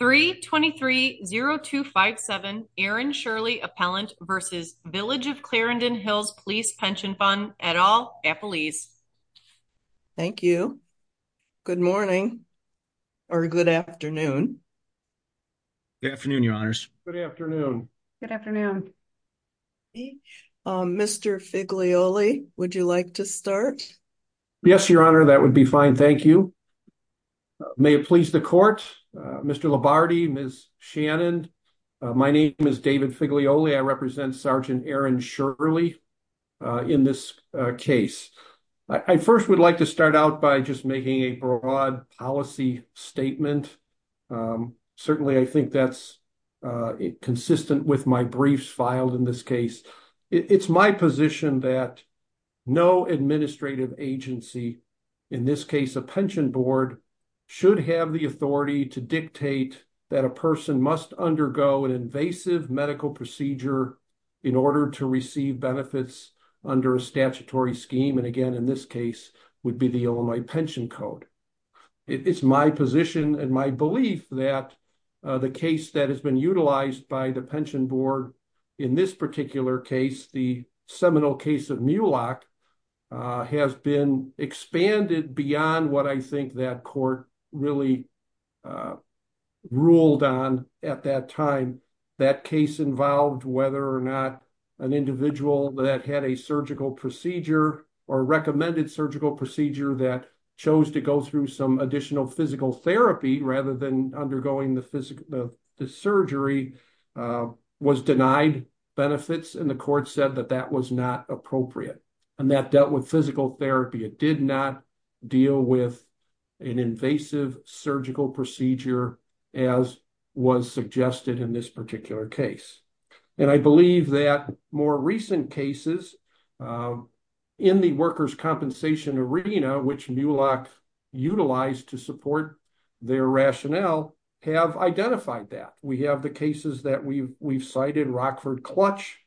3-23-0257 Aaron Shirley Appellant v. Village of Clarendon Hills Police Pension Fund, et al., Appelese. Thank you. Good morning, or good afternoon. Good afternoon, Your Honors. Good afternoon. Good afternoon. Mr. Figlioli, would you like to start? Yes, Your Honor, that would be fine, thank you. May it please the Court, Mr. Labarde, Ms. Shannon, my name is David Figlioli. I represent Sergeant Aaron Shirley in this case. I first would like to start out by just making a broad policy statement. Certainly, I think that's consistent with my briefs filed in this case. It's my position that no administrative agency, in this case a pension board, should have the authority to dictate that a person must undergo an invasive medical procedure in order to receive benefits under a statutory scheme. And again, in this case, would be the Illinois Pension Code. It's my position and my belief that the case that has been utilized by the pension board, in this particular case, the seminal case of Mulock, has been expanded beyond what I think that court really ruled on at that time. And that case involved whether or not an individual that had a surgical procedure or recommended surgical procedure that chose to go through some additional physical therapy, rather than undergoing the surgery, was denied benefits. And the court said that that was not appropriate. And that dealt with physical therapy. It did not deal with an invasive surgical procedure, as was suggested in this particular case. And I believe that more recent cases in the workers' compensation arena, which Mulock utilized to support their rationale, have identified that. We have the cases that we've cited, Rockford Clutch,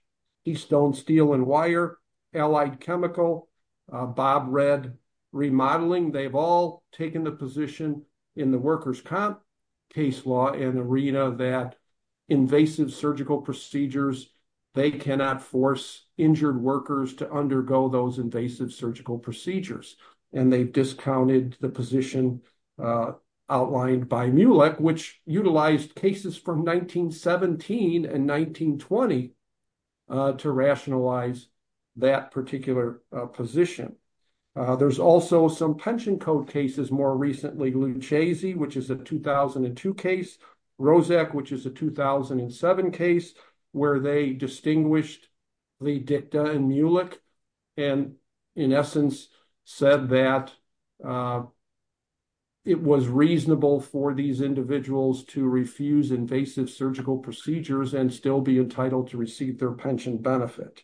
Eastone Steel & Wire, Allied Chemical, Bob Red Remodeling. They've all taken the position in the workers' comp case law and arena that invasive surgical procedures, they cannot force injured workers to undergo those invasive surgical procedures. And they've discounted the position outlined by Mulock, which utilized cases from 1917 and 1920 to rationalize that particular position. There's also some pension code cases more recently, Lucezzi, which is a 2002 case, Rozak, which is a 2007 case, where they distinguished Lee Dicta and Mulock, and in essence, said that it was reasonable for these individuals to refuse invasive surgical procedures and still be entitled to receive their pension benefit.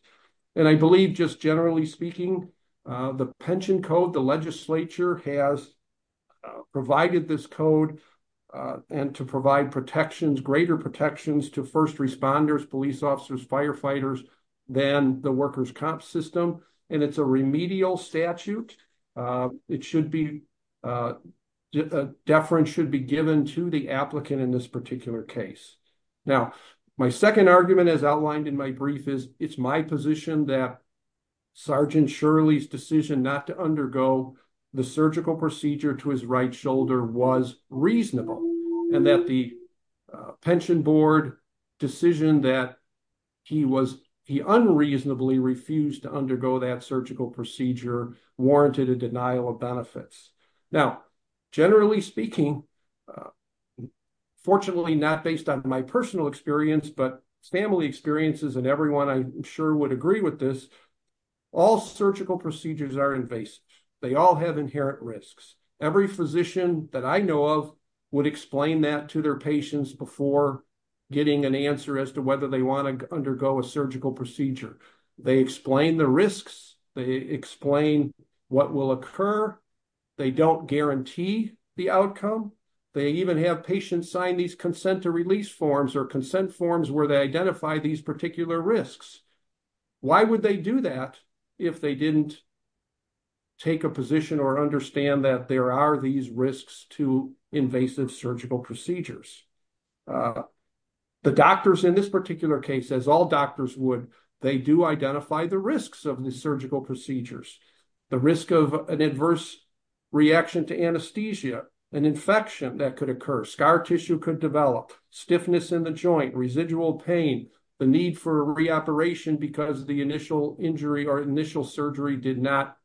And I believe, just generally speaking, the pension code, the legislature has provided this code and to provide protections, greater protections to first responders, police officers, firefighters, than the workers' comp system. And it's a remedial statute. It should be, a deference should be given to the applicant in this particular case. Now, my second argument, as outlined in my brief, is it's my position that Sergeant Shirley's decision not to undergo the surgical procedure to his right shoulder was reasonable, and that the pension board decision that he unreasonably refused to undergo that surgical procedure warranted a denial of benefits. Now, generally speaking, fortunately not based on my personal experience, but family experiences and everyone I'm sure would agree with this, all surgical procedures are invasive. They all have inherent risks. Every physician that I know of would explain that to their patients before getting an answer as to whether they want to undergo a surgical procedure. They explain the risks. They explain what will occur. They don't guarantee the outcome. They even have patients sign these consent to release forms or consent forms where they identify these particular risks. Why would they do that if they didn't take a position or understand that there are these risks to invasive surgical procedures? The doctors in this particular case, as all doctors would, they do identify the risks of the surgical procedures. The risk of an adverse reaction to anesthesia, an infection that could occur, scar tissue could develop, stiffness in the joint, residual pain, the need for reoperation because the initial injury or initial surgery did not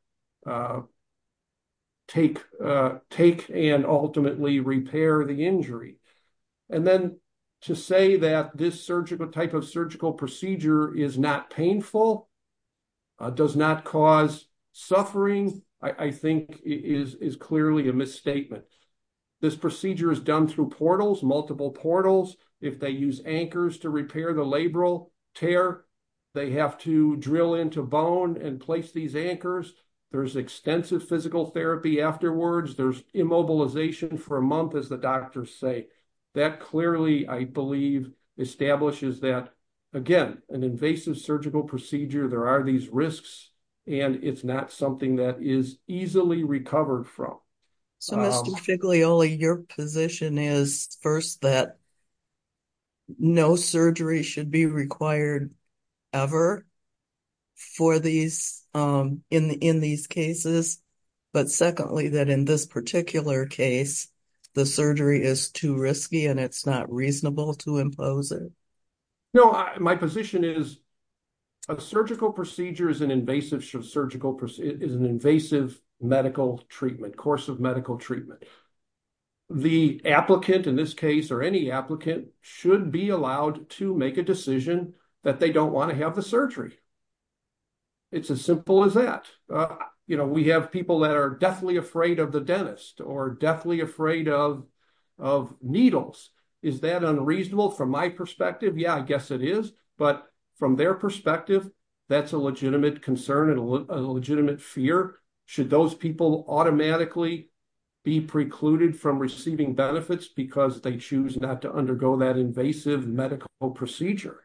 take and ultimately repair the injury. And then to say that this type of surgical procedure is not painful, does not cause suffering, I think is clearly a misstatement. This procedure is done through portals, multiple portals. If they use anchors to repair the labral tear, they have to drill into bone and place these anchors. There's extensive physical therapy afterwards. There's immobilization for a month, as the doctors say. That clearly, I believe, establishes that, again, an invasive surgical procedure, there are these risks, and it's not something that is easily recovered from. So, Mr. Figlioli, your position is, first, that no surgery should be required ever in these cases, but secondly, that in this particular case, the surgery is too risky and it's not reasonable to impose it. No, my position is a surgical procedure is an invasive medical treatment, course of medical treatment. The applicant in this case, or any applicant, should be allowed to make a decision that they don't want to have the surgery. It's as simple as that. We have people that are deathly afraid of the dentist or deathly afraid of needles. Is that unreasonable from my perspective? Yeah, I guess it is, but from their perspective, that's a legitimate concern and a legitimate fear. Should those people automatically be precluded from receiving benefits because they choose not to undergo that invasive medical procedure?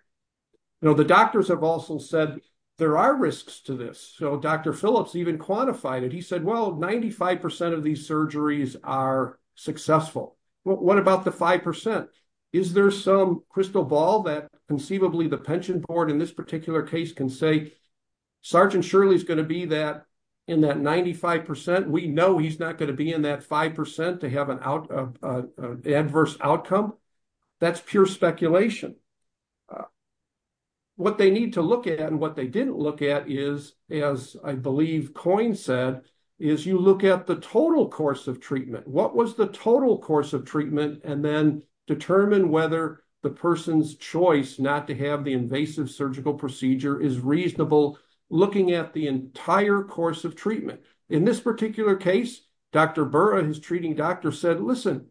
The doctors have also said there are risks to this. So, Dr. Phillips even quantified it. He said, well, 95% of these surgeries are successful. What about the 5%? Is there some crystal ball that conceivably the pension board in this particular case can say, Sergeant Shirley is going to be in that 95%? We know he's not going to be in that 5% to have an adverse outcome. That's pure speculation. What they need to look at and what they didn't look at is, as I believe Coyne said, is you look at the total course of treatment. What was the total course of treatment? And then determine whether the person's choice not to have the invasive surgical procedure is reasonable looking at the entire course of treatment. In this particular case, Dr. Burra, his treating doctor, said, listen,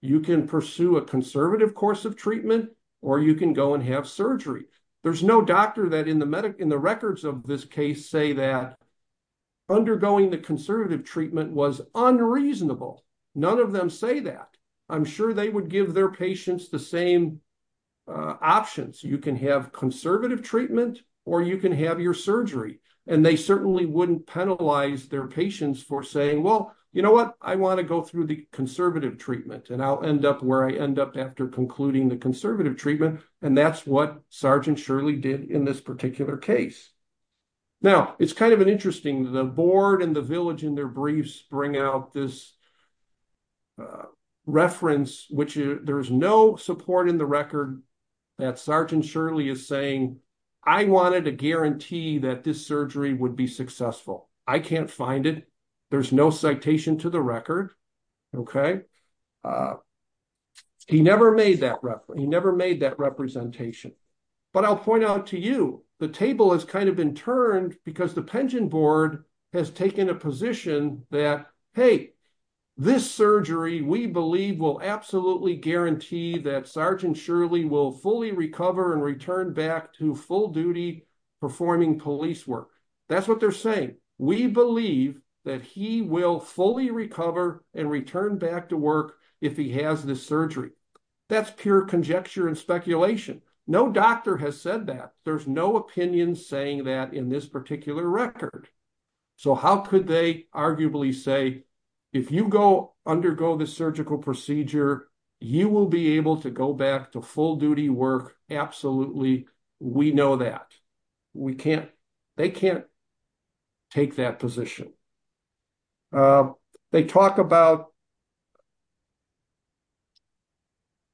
you can pursue a conservative course of treatment or you can go and have surgery. There's no doctor that in the records of this case say that undergoing the conservative treatment was unreasonable. None of them say that. I'm sure they would give their patients the same options. You can have conservative treatment or you can have your surgery. And they certainly wouldn't penalize their patients for saying, well, you know what, I want to go through the conservative treatment and I'll end up where I end up after concluding the conservative treatment. And that's what Sergeant Shirley did in this particular case. Now, it's kind of interesting, the board and the village in their briefs bring out this reference, which there's no support in the record that Sergeant Shirley is saying, I wanted to guarantee that this surgery would be successful. I can't find it. There's no citation to the record. Okay. He never made that reference. He never made that representation. But I'll point out to you, the table has kind of been turned because the pension board has taken a position that, hey, this surgery we believe will absolutely guarantee that Sergeant Shirley will fully recover and return back to full duty performing police work. That's what they're saying. We believe that he will fully recover and return back to work if he has this surgery. That's pure conjecture and speculation. No doctor has said that. There's no opinion saying that in this particular record. So how could they arguably say, if you go undergo the surgical procedure, you will be able to go back to full duty work? Absolutely. We know that. We can't, they can't take that position. They talk about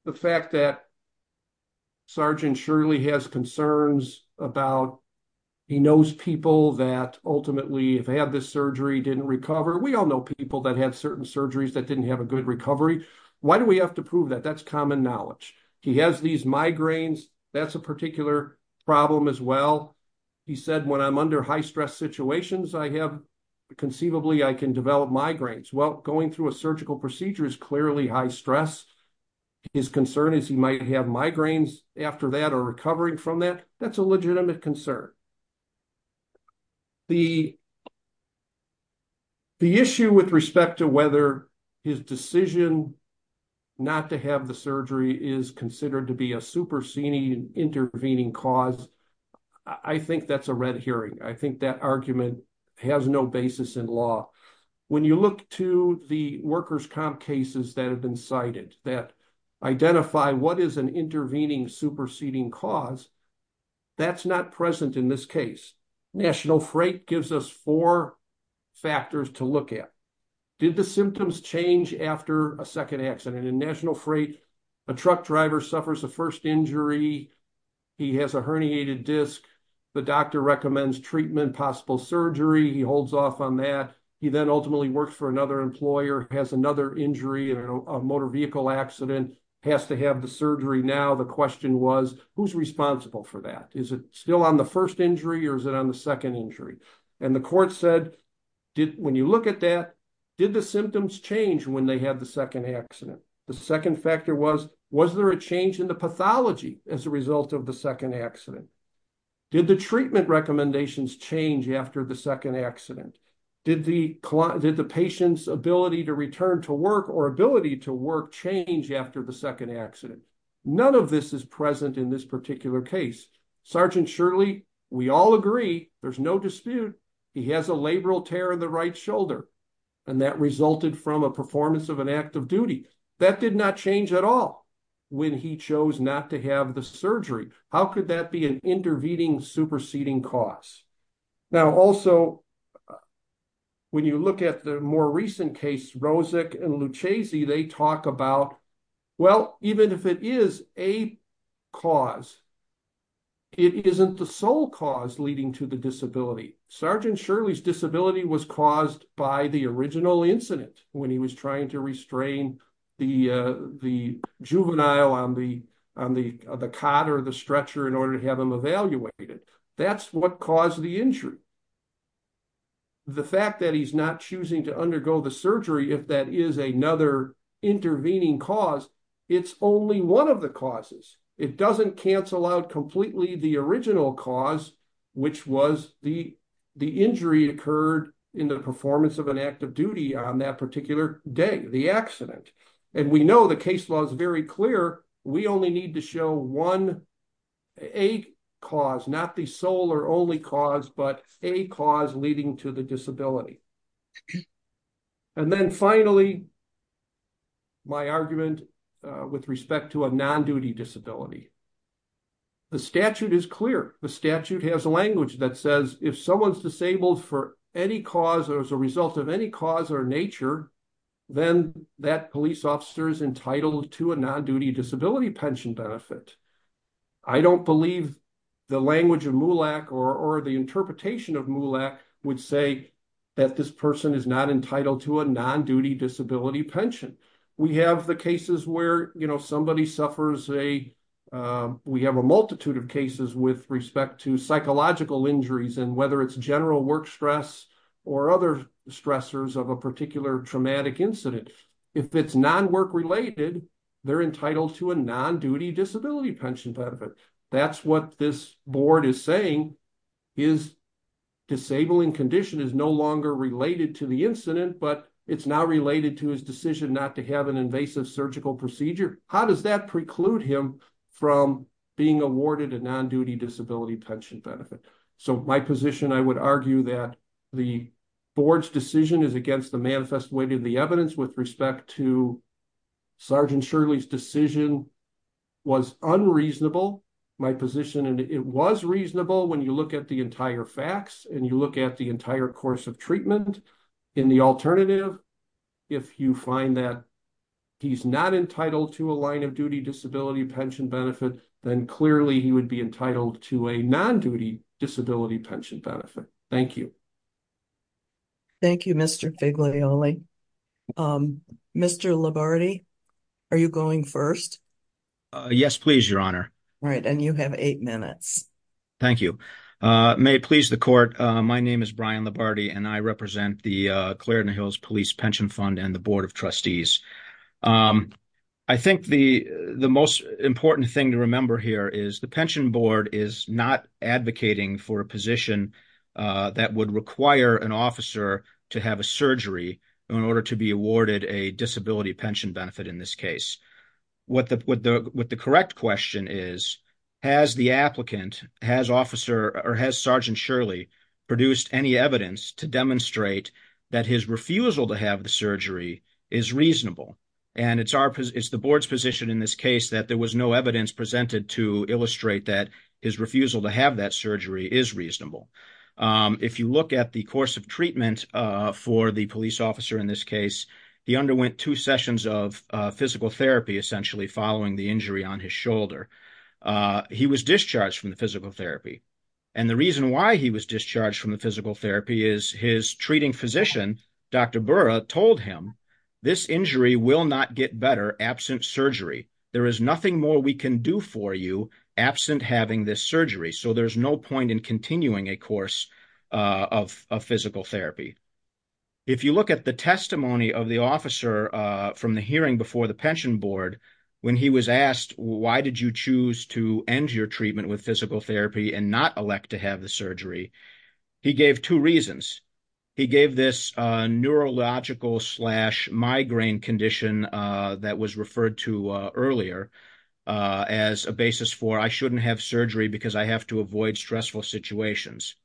the fact that Sergeant Shirley has concerns about, he knows people that ultimately have had this surgery, didn't recover. We all know people that had certain surgeries that didn't have a good recovery. Why do we have to prove that? That's common knowledge. He has these migraines. That's a particular problem as well. He said when I'm under high stress situations, I have conceivably I can develop migraines. Well, going through a surgical procedure is clearly high stress. His concern is he might have migraines after that or recovering from that. That's a legitimate concern. The issue with respect to whether his decision not to have the surgery is considered to be a superseding intervening cause, I think that's a red herring. I think that argument has no basis in law. When you look to the workers' comp cases that have been cited that identify what is an intervening superseding cause, that's not present in this case. National Freight gives us four factors to look at. Did the symptoms change after a second accident? In National Freight, a truck driver suffers a first injury. He has a herniated disc. The doctor recommends treatment, possible surgery. He holds off on that. He then ultimately works for another employer, has another injury, a motor vehicle accident, has to have the surgery now. The question was, who's responsible for that? Is it still on the first injury or is it on the second injury? And the court said, when you look at that, did the symptoms change when they had the second accident? The second factor was, was there a change in the pathology as a result of the second accident? Did the treatment recommendations change after the second accident? Did the patient's ability to return to work or ability to work change after the second accident? None of this is present in this particular case. Sergeant Shirley, we all agree, there's no dispute, he has a labral tear in the right shoulder. And that resulted from a performance of an act of duty. That did not change at all when he chose not to have the surgery. How could that be an intervening, superseding cause? Now, also, when you look at the more recent case, Rozek and Lucchesi, they talk about, well, even if it is a cause, it isn't the sole cause leading to the disability. Sergeant Shirley's disability was caused by the original incident when he was trying to restrain the juvenile on the cot or the stretcher in order to have him evaluated. That's what caused the injury. The fact that he's not choosing to undergo the surgery, if that is another intervening cause, it's only one of the causes. It doesn't cancel out completely the original cause, which was the injury occurred in the performance of an act of duty on that particular day, the accident. And we know the case law is very clear. We only need to show one, a cause, not the sole or only cause, but a cause leading to the disability. And then finally, my argument with respect to a non-duty disability. The statute is clear. The statute has a language that says if someone's disabled for any cause or as a result of any cause or nature, then that police officer is entitled to a non-duty disability pension benefit. I don't believe the language of MULAC or the interpretation of MULAC would say that this person is not entitled to a non-duty disability pension. We have the cases where, you know, somebody suffers a, we have a multitude of cases with respect to psychological injuries and whether it's general work stress or other stressors of a particular traumatic incident. If it's non-work related, they're entitled to a non-duty disability pension benefit. That's what this board is saying is disabling condition is no longer related to the incident, but it's now related to his decision not to have an invasive surgical procedure. How does that preclude him from being awarded a non-duty disability pension benefit? So my position, I would argue that the board's decision is against the manifest weight of the evidence with respect to Sergeant Shirley's decision was unreasonable. My position, and it was reasonable when you look at the entire facts and you look at the entire course of treatment. In the alternative, if you find that he's not entitled to a line of duty disability pension benefit, then clearly he would be entitled to a non-duty disability pension benefit. Thank you. Thank you, Mr. Figlioli. Mr. Labarde, are you going first? Yes, please, Your Honor. All right, and you have eight minutes. Thank you. May it please the court. My name is Brian Labarde, and I represent the Clarendon Hills Police Pension Fund and the Board of Trustees. I think the most important thing to remember here is the pension board is not advocating for a position that would require an officer to have a surgery in order to be awarded a disability pension benefit in this case. What the correct question is, has the applicant, has Sergeant Shirley produced any evidence to demonstrate that his refusal to have the surgery is reasonable? And it's the board's position in this case that there was no evidence presented to illustrate that his refusal to have that surgery is reasonable. If you look at the course of treatment for the police officer in this case, he underwent two sessions of physical therapy, essentially, following the injury on his shoulder. He was discharged from the physical therapy. And the reason why he was discharged from the physical therapy is his treating physician, Dr. Burra, told him, this injury will not get better absent surgery. There is nothing more we can do for you absent having this surgery. So there's no point in continuing a course of physical therapy. If you look at the testimony of the officer from the hearing before the pension board, when he was asked, why did you choose to end your treatment with physical therapy and not elect to have the surgery? He gave two reasons. He gave this neurological slash migraine condition that was referred to earlier as a basis for I shouldn't have surgery because I have to avoid stressful situations.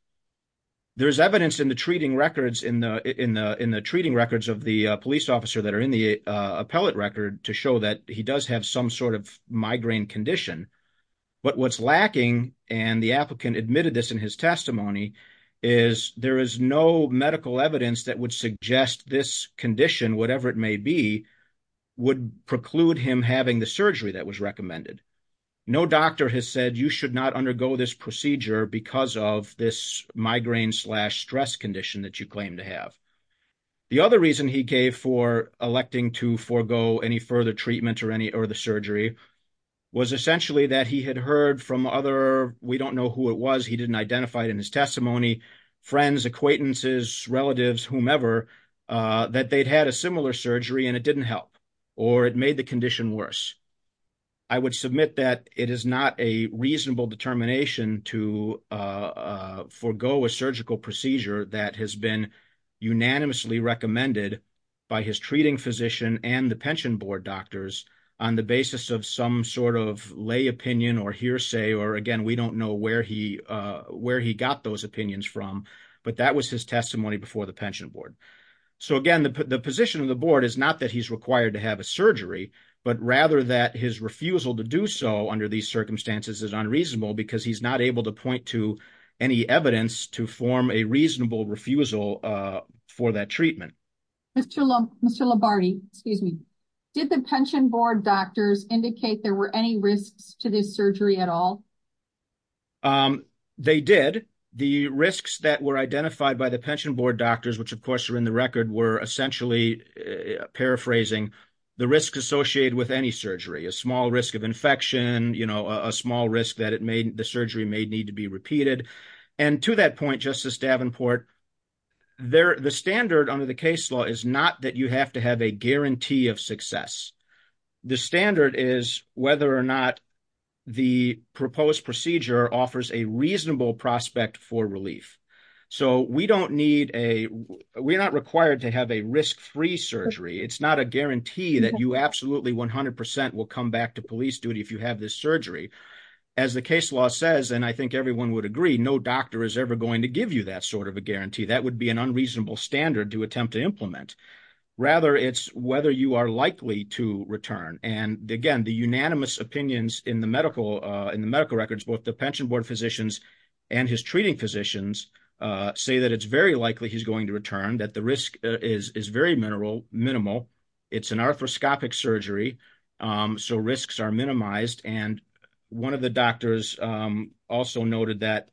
There is evidence in the treating records in the in the in the treating records of the police officer that are in the appellate record to show that he does have some sort of migraine condition. But what's lacking, and the applicant admitted this in his testimony, is there is no medical evidence that would suggest this condition, whatever it may be, would preclude him having the surgery that was recommended. No doctor has said you should not undergo this procedure because of this migraine slash stress condition that you claim to have. The other reason he gave for electing to forego any further treatment or any or the surgery was essentially that he had heard from other we don't know who it was. He didn't identify it in his testimony, friends, acquaintances, relatives, whomever, that they'd had a similar surgery and it didn't help or it made the condition worse. I would submit that it is not a reasonable determination to forego a surgical procedure that has been unanimously recommended by his treating physician and the pension board doctors on the basis of some sort of lay opinion or hearsay or again we don't know where he where he got those opinions from. But that was his testimony before the pension board. So again, the position of the board is not that he's required to have a surgery, but rather that his refusal to do so under these circumstances is unreasonable because he's not able to point to any evidence to form a reasonable refusal for that treatment. Mr. Lombardi, did the pension board doctors indicate there were any risks to this surgery at all? They did. The risks that were identified by the pension board doctors, which of course are in the record, were essentially paraphrasing the risk associated with any surgery, a small risk of infection, a small risk that the surgery may need to be repeated. And to that point, Justice Davenport, the standard under the case law is not that you have to have a guarantee of success. The standard is whether or not the proposed procedure offers a reasonable prospect for relief. So we don't need a we're not required to have a risk free surgery. It's not a guarantee that you absolutely 100 percent will come back to police duty if you have this surgery. As the case law says, and I think everyone would agree, no doctor is ever going to give you that sort of a guarantee. That would be an unreasonable standard to attempt to implement. Rather, it's whether you are likely to return. And again, the unanimous opinions in the medical records, both the pension board physicians and his treating physicians, say that it's very likely he's going to return, that the risk is very minimal. It's an arthroscopic surgery, so risks are minimized. And one of the doctors also noted that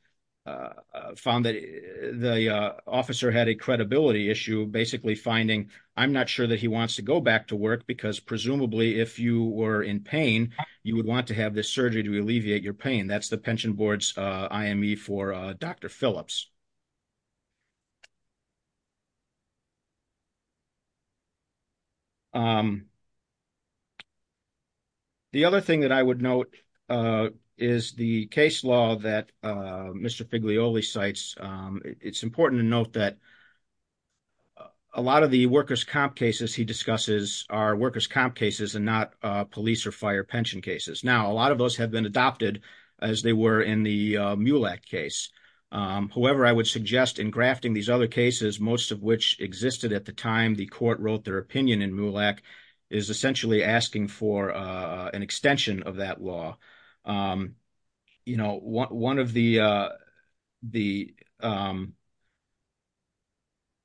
found that the officer had a credibility issue, basically finding, I'm not sure that he wants to go back to work because presumably if you were in pain, you would want to have this surgery to alleviate your pain. That's the pension board's IME for Dr. Phillips. The other thing that I would note is the case law that Mr. Figlioli cites. It's important to note that a lot of the workers' comp cases he discusses are workers' comp cases and not police or fire pension cases. Now, a lot of those have been adopted as they were in the MULAC case. However, I would suggest in grafting these other cases, most of which existed at the time the court wrote their opinion in MULAC, is essentially asking for an extension of that law.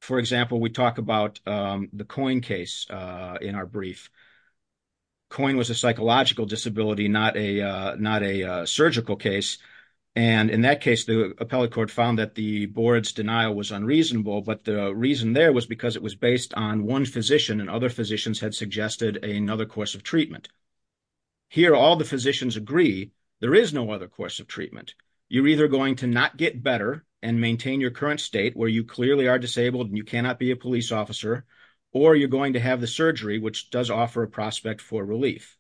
For example, we talk about the COIN case in our brief. COIN was a psychological disability, not a surgical case. And in that case, the appellate court found that the board's denial was unreasonable, but the reason there was because it was based on one physician and other physicians had suggested another course of treatment. Here, all the physicians agree there is no other course of treatment. You're either going to not get better and maintain your current state where you clearly are disabled and you cannot be a police officer, or you're going to have the surgery, which does offer a prospect for relief.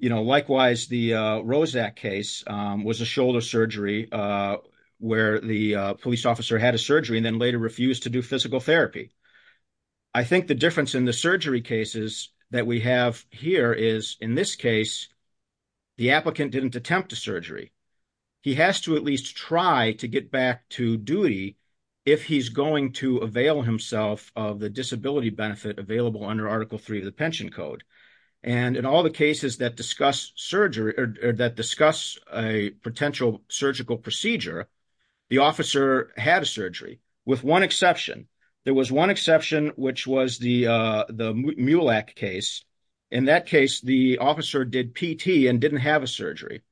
Likewise, the ROSAC case was a shoulder surgery where the police officer had a surgery and then later refused to do physical therapy. I think the difference in the surgery cases that we have here is, in this case, the applicant didn't attempt a surgery. He has to at least try to get back to duty if he's going to avail himself of the disability benefit available under Article 3 of the Pension Code. And in all the cases that discuss surgery or that discuss a potential surgical procedure, the officer had a surgery with one exception. There was one exception, which was the MULAC case. In that case, the officer did PT and didn't have a surgery.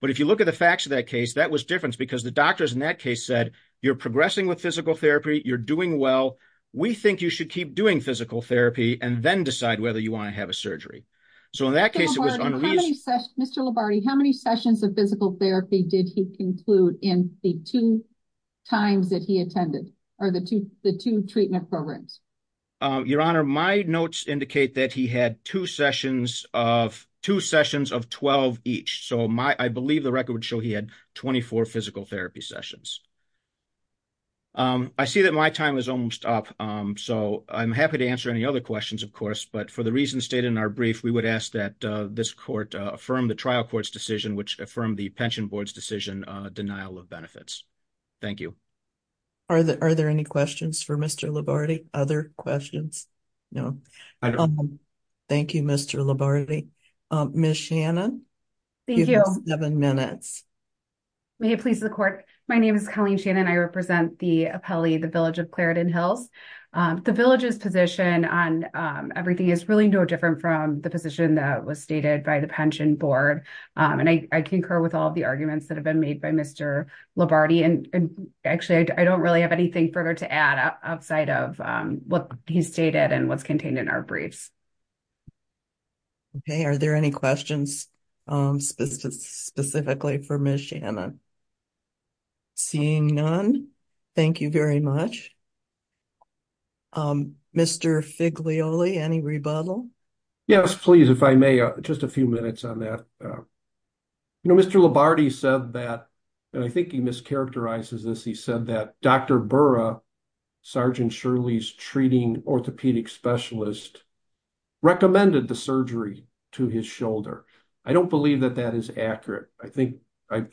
But if you look at the facts of that case, that was different because the doctors in that case said, you're progressing with physical therapy, you're doing well, we think you should keep doing physical therapy and then decide whether you want to have a surgery. So in that case, it was unreasonable. Mr. Lombardi, how many sessions of physical therapy did he conclude in the two times that he attended or the two treatment programs? Your Honor, my notes indicate that he had two sessions of 12 each. So I believe the record would show he had 24 physical therapy sessions. I see that my time is almost up. So I'm happy to answer any other questions, of course. But for the reasons stated in our brief, we would ask that this court affirm the trial court's decision, which affirmed the Pension Board's decision, denial of benefits. Thank you. Are there any questions for Mr. Lombardi? Other questions? No. Thank you, Mr. Lombardi. Ms. Shannon, you have seven minutes. May it please the court. My name is Colleen Shannon. I represent the appellee, the village of Clarendon Hills. The village's position on everything is really no different from the position that was stated by the Pension Board. And I concur with all the arguments that have been made by Mr. Lombardi. And actually, I don't really have anything further to add outside of what he stated and what's contained in our briefs. Okay. Are there any questions specifically for Ms. Shannon? Seeing none, thank you very much. Mr. Figlioli, any rebuttal? Yes, please, if I may, just a few minutes on that. You know, Mr. Lombardi said that, and I think he mischaracterizes this, he said that Dr. Burra, Sergeant Shirley's treating orthopedic specialist, recommended the surgery to his shoulder. I don't believe that that is accurate. I think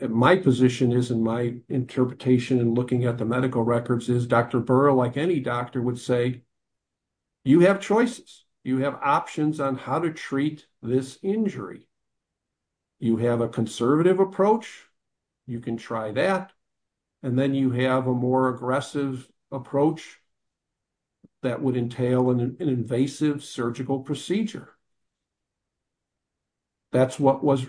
my position is in my interpretation and looking at the medical records is Dr. Burra, like any doctor would say, you have choices. You have options on how to treat this injury. You have a conservative approach. You can try that. And then you have a more aggressive approach that would entail an invasive surgical procedure. That's what was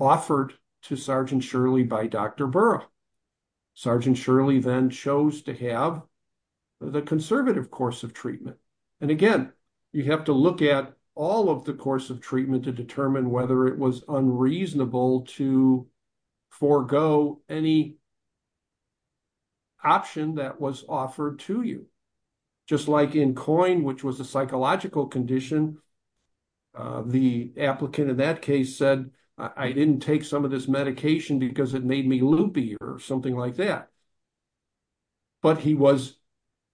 offered to Sergeant Shirley by Dr. Burra. Sergeant Shirley then chose to have the conservative course of treatment. And again, you have to look at all of the course of treatment to determine whether it was unreasonable to forego any option that was offered to you. Just like in COIN, which was a psychological condition, the applicant in that case said, I didn't take some of this medication because it made me loopy or something like that. But he was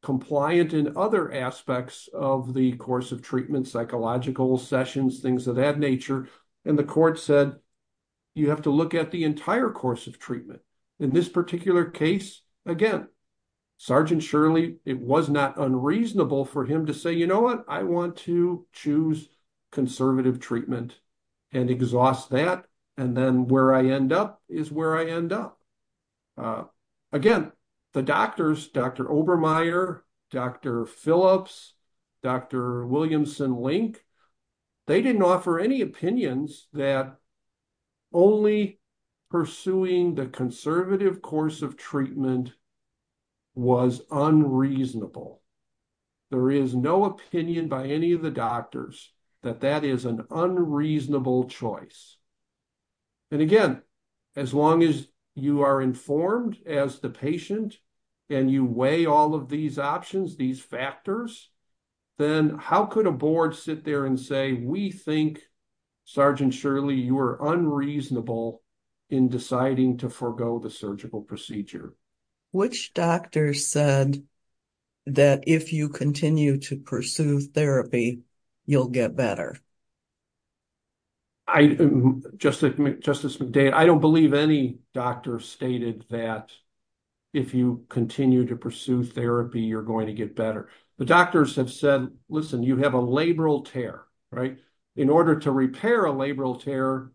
compliant in other aspects of the course of treatment, psychological sessions, things of that nature. And the court said, you have to look at the entire course of treatment. In this particular case, again, Sergeant Shirley, it was not unreasonable for him to say, you know what, I want to choose conservative treatment and exhaust that. And then where I end up is where I end up. Again, the doctors, Dr. Obermeyer, Dr. Phillips, Dr. Williamson-Link, they didn't offer any opinions that only pursuing the conservative course of treatment was unreasonable. There is no opinion by any of the doctors that that is an unreasonable choice. And again, as long as you are informed as the patient and you weigh all of these options, these factors, then how could a board sit there and say, we think, Sergeant Shirley, you are unreasonable in deciding to forego the surgical procedure? Which doctor said that if you continue to pursue therapy, you'll get better? Justice McDade, I don't believe any doctor stated that if you continue to pursue therapy, you're going to get better. The doctors have said, listen, you have a labral tear, right? In order to repair a labral tear,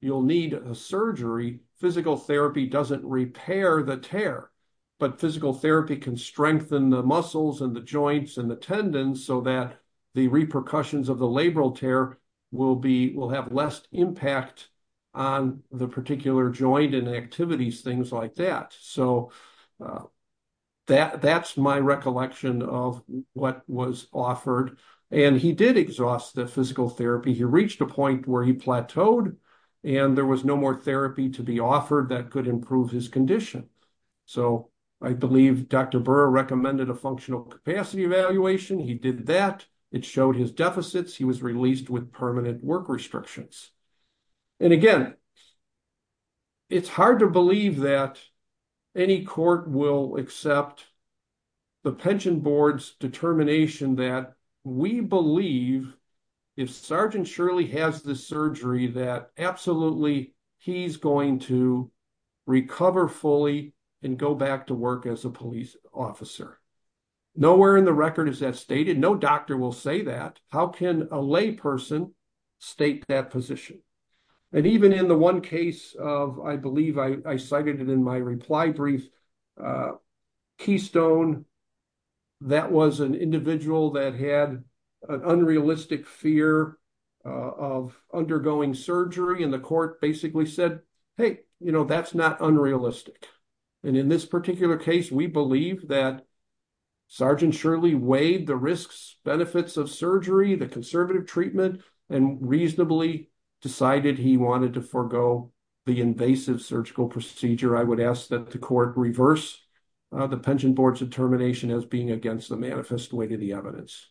you'll need a surgery. Physical therapy doesn't repair the tear, but physical therapy can strengthen the muscles and the joints and the tendons so that the repercussions of the labral tear will have less impact on the particular joint and activities, things like that. So that's my recollection of what was offered. And he did exhaust the physical therapy. He reached a point where he plateaued and there was no more therapy to be offered that could improve his condition. So I believe Dr. Burr recommended a functional capacity evaluation. He did that. It showed his deficits. He was released with permanent work restrictions. And again, it's hard to believe that any court will accept the pension board's determination that we believe if Sergeant Shirley has the surgery, that absolutely he's going to recover fully and go back to work as a police officer. Nowhere in the record is that stated. No doctor will say that. How can a lay person state that position? And even in the one case of, I believe I cited it in my reply brief, Keystone, that was an individual that had an unrealistic fear of undergoing surgery. And the court basically said, hey, you know, that's not unrealistic. And in this particular case, we believe that Sergeant Shirley weighed the risks, benefits of surgery, the conservative treatment, and reasonably decided he wanted to forego the invasive surgical procedure. I would ask that the court reverse the pension board's determination as being against the manifest way to the evidence.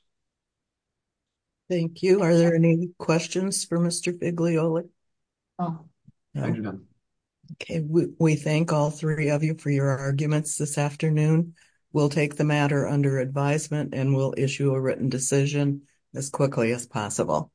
Thank you. Are there any questions for Mr. Figlioli? We thank all three of you for your arguments this afternoon. We'll take the matter under advisement and we'll issue a written decision as quickly as possible.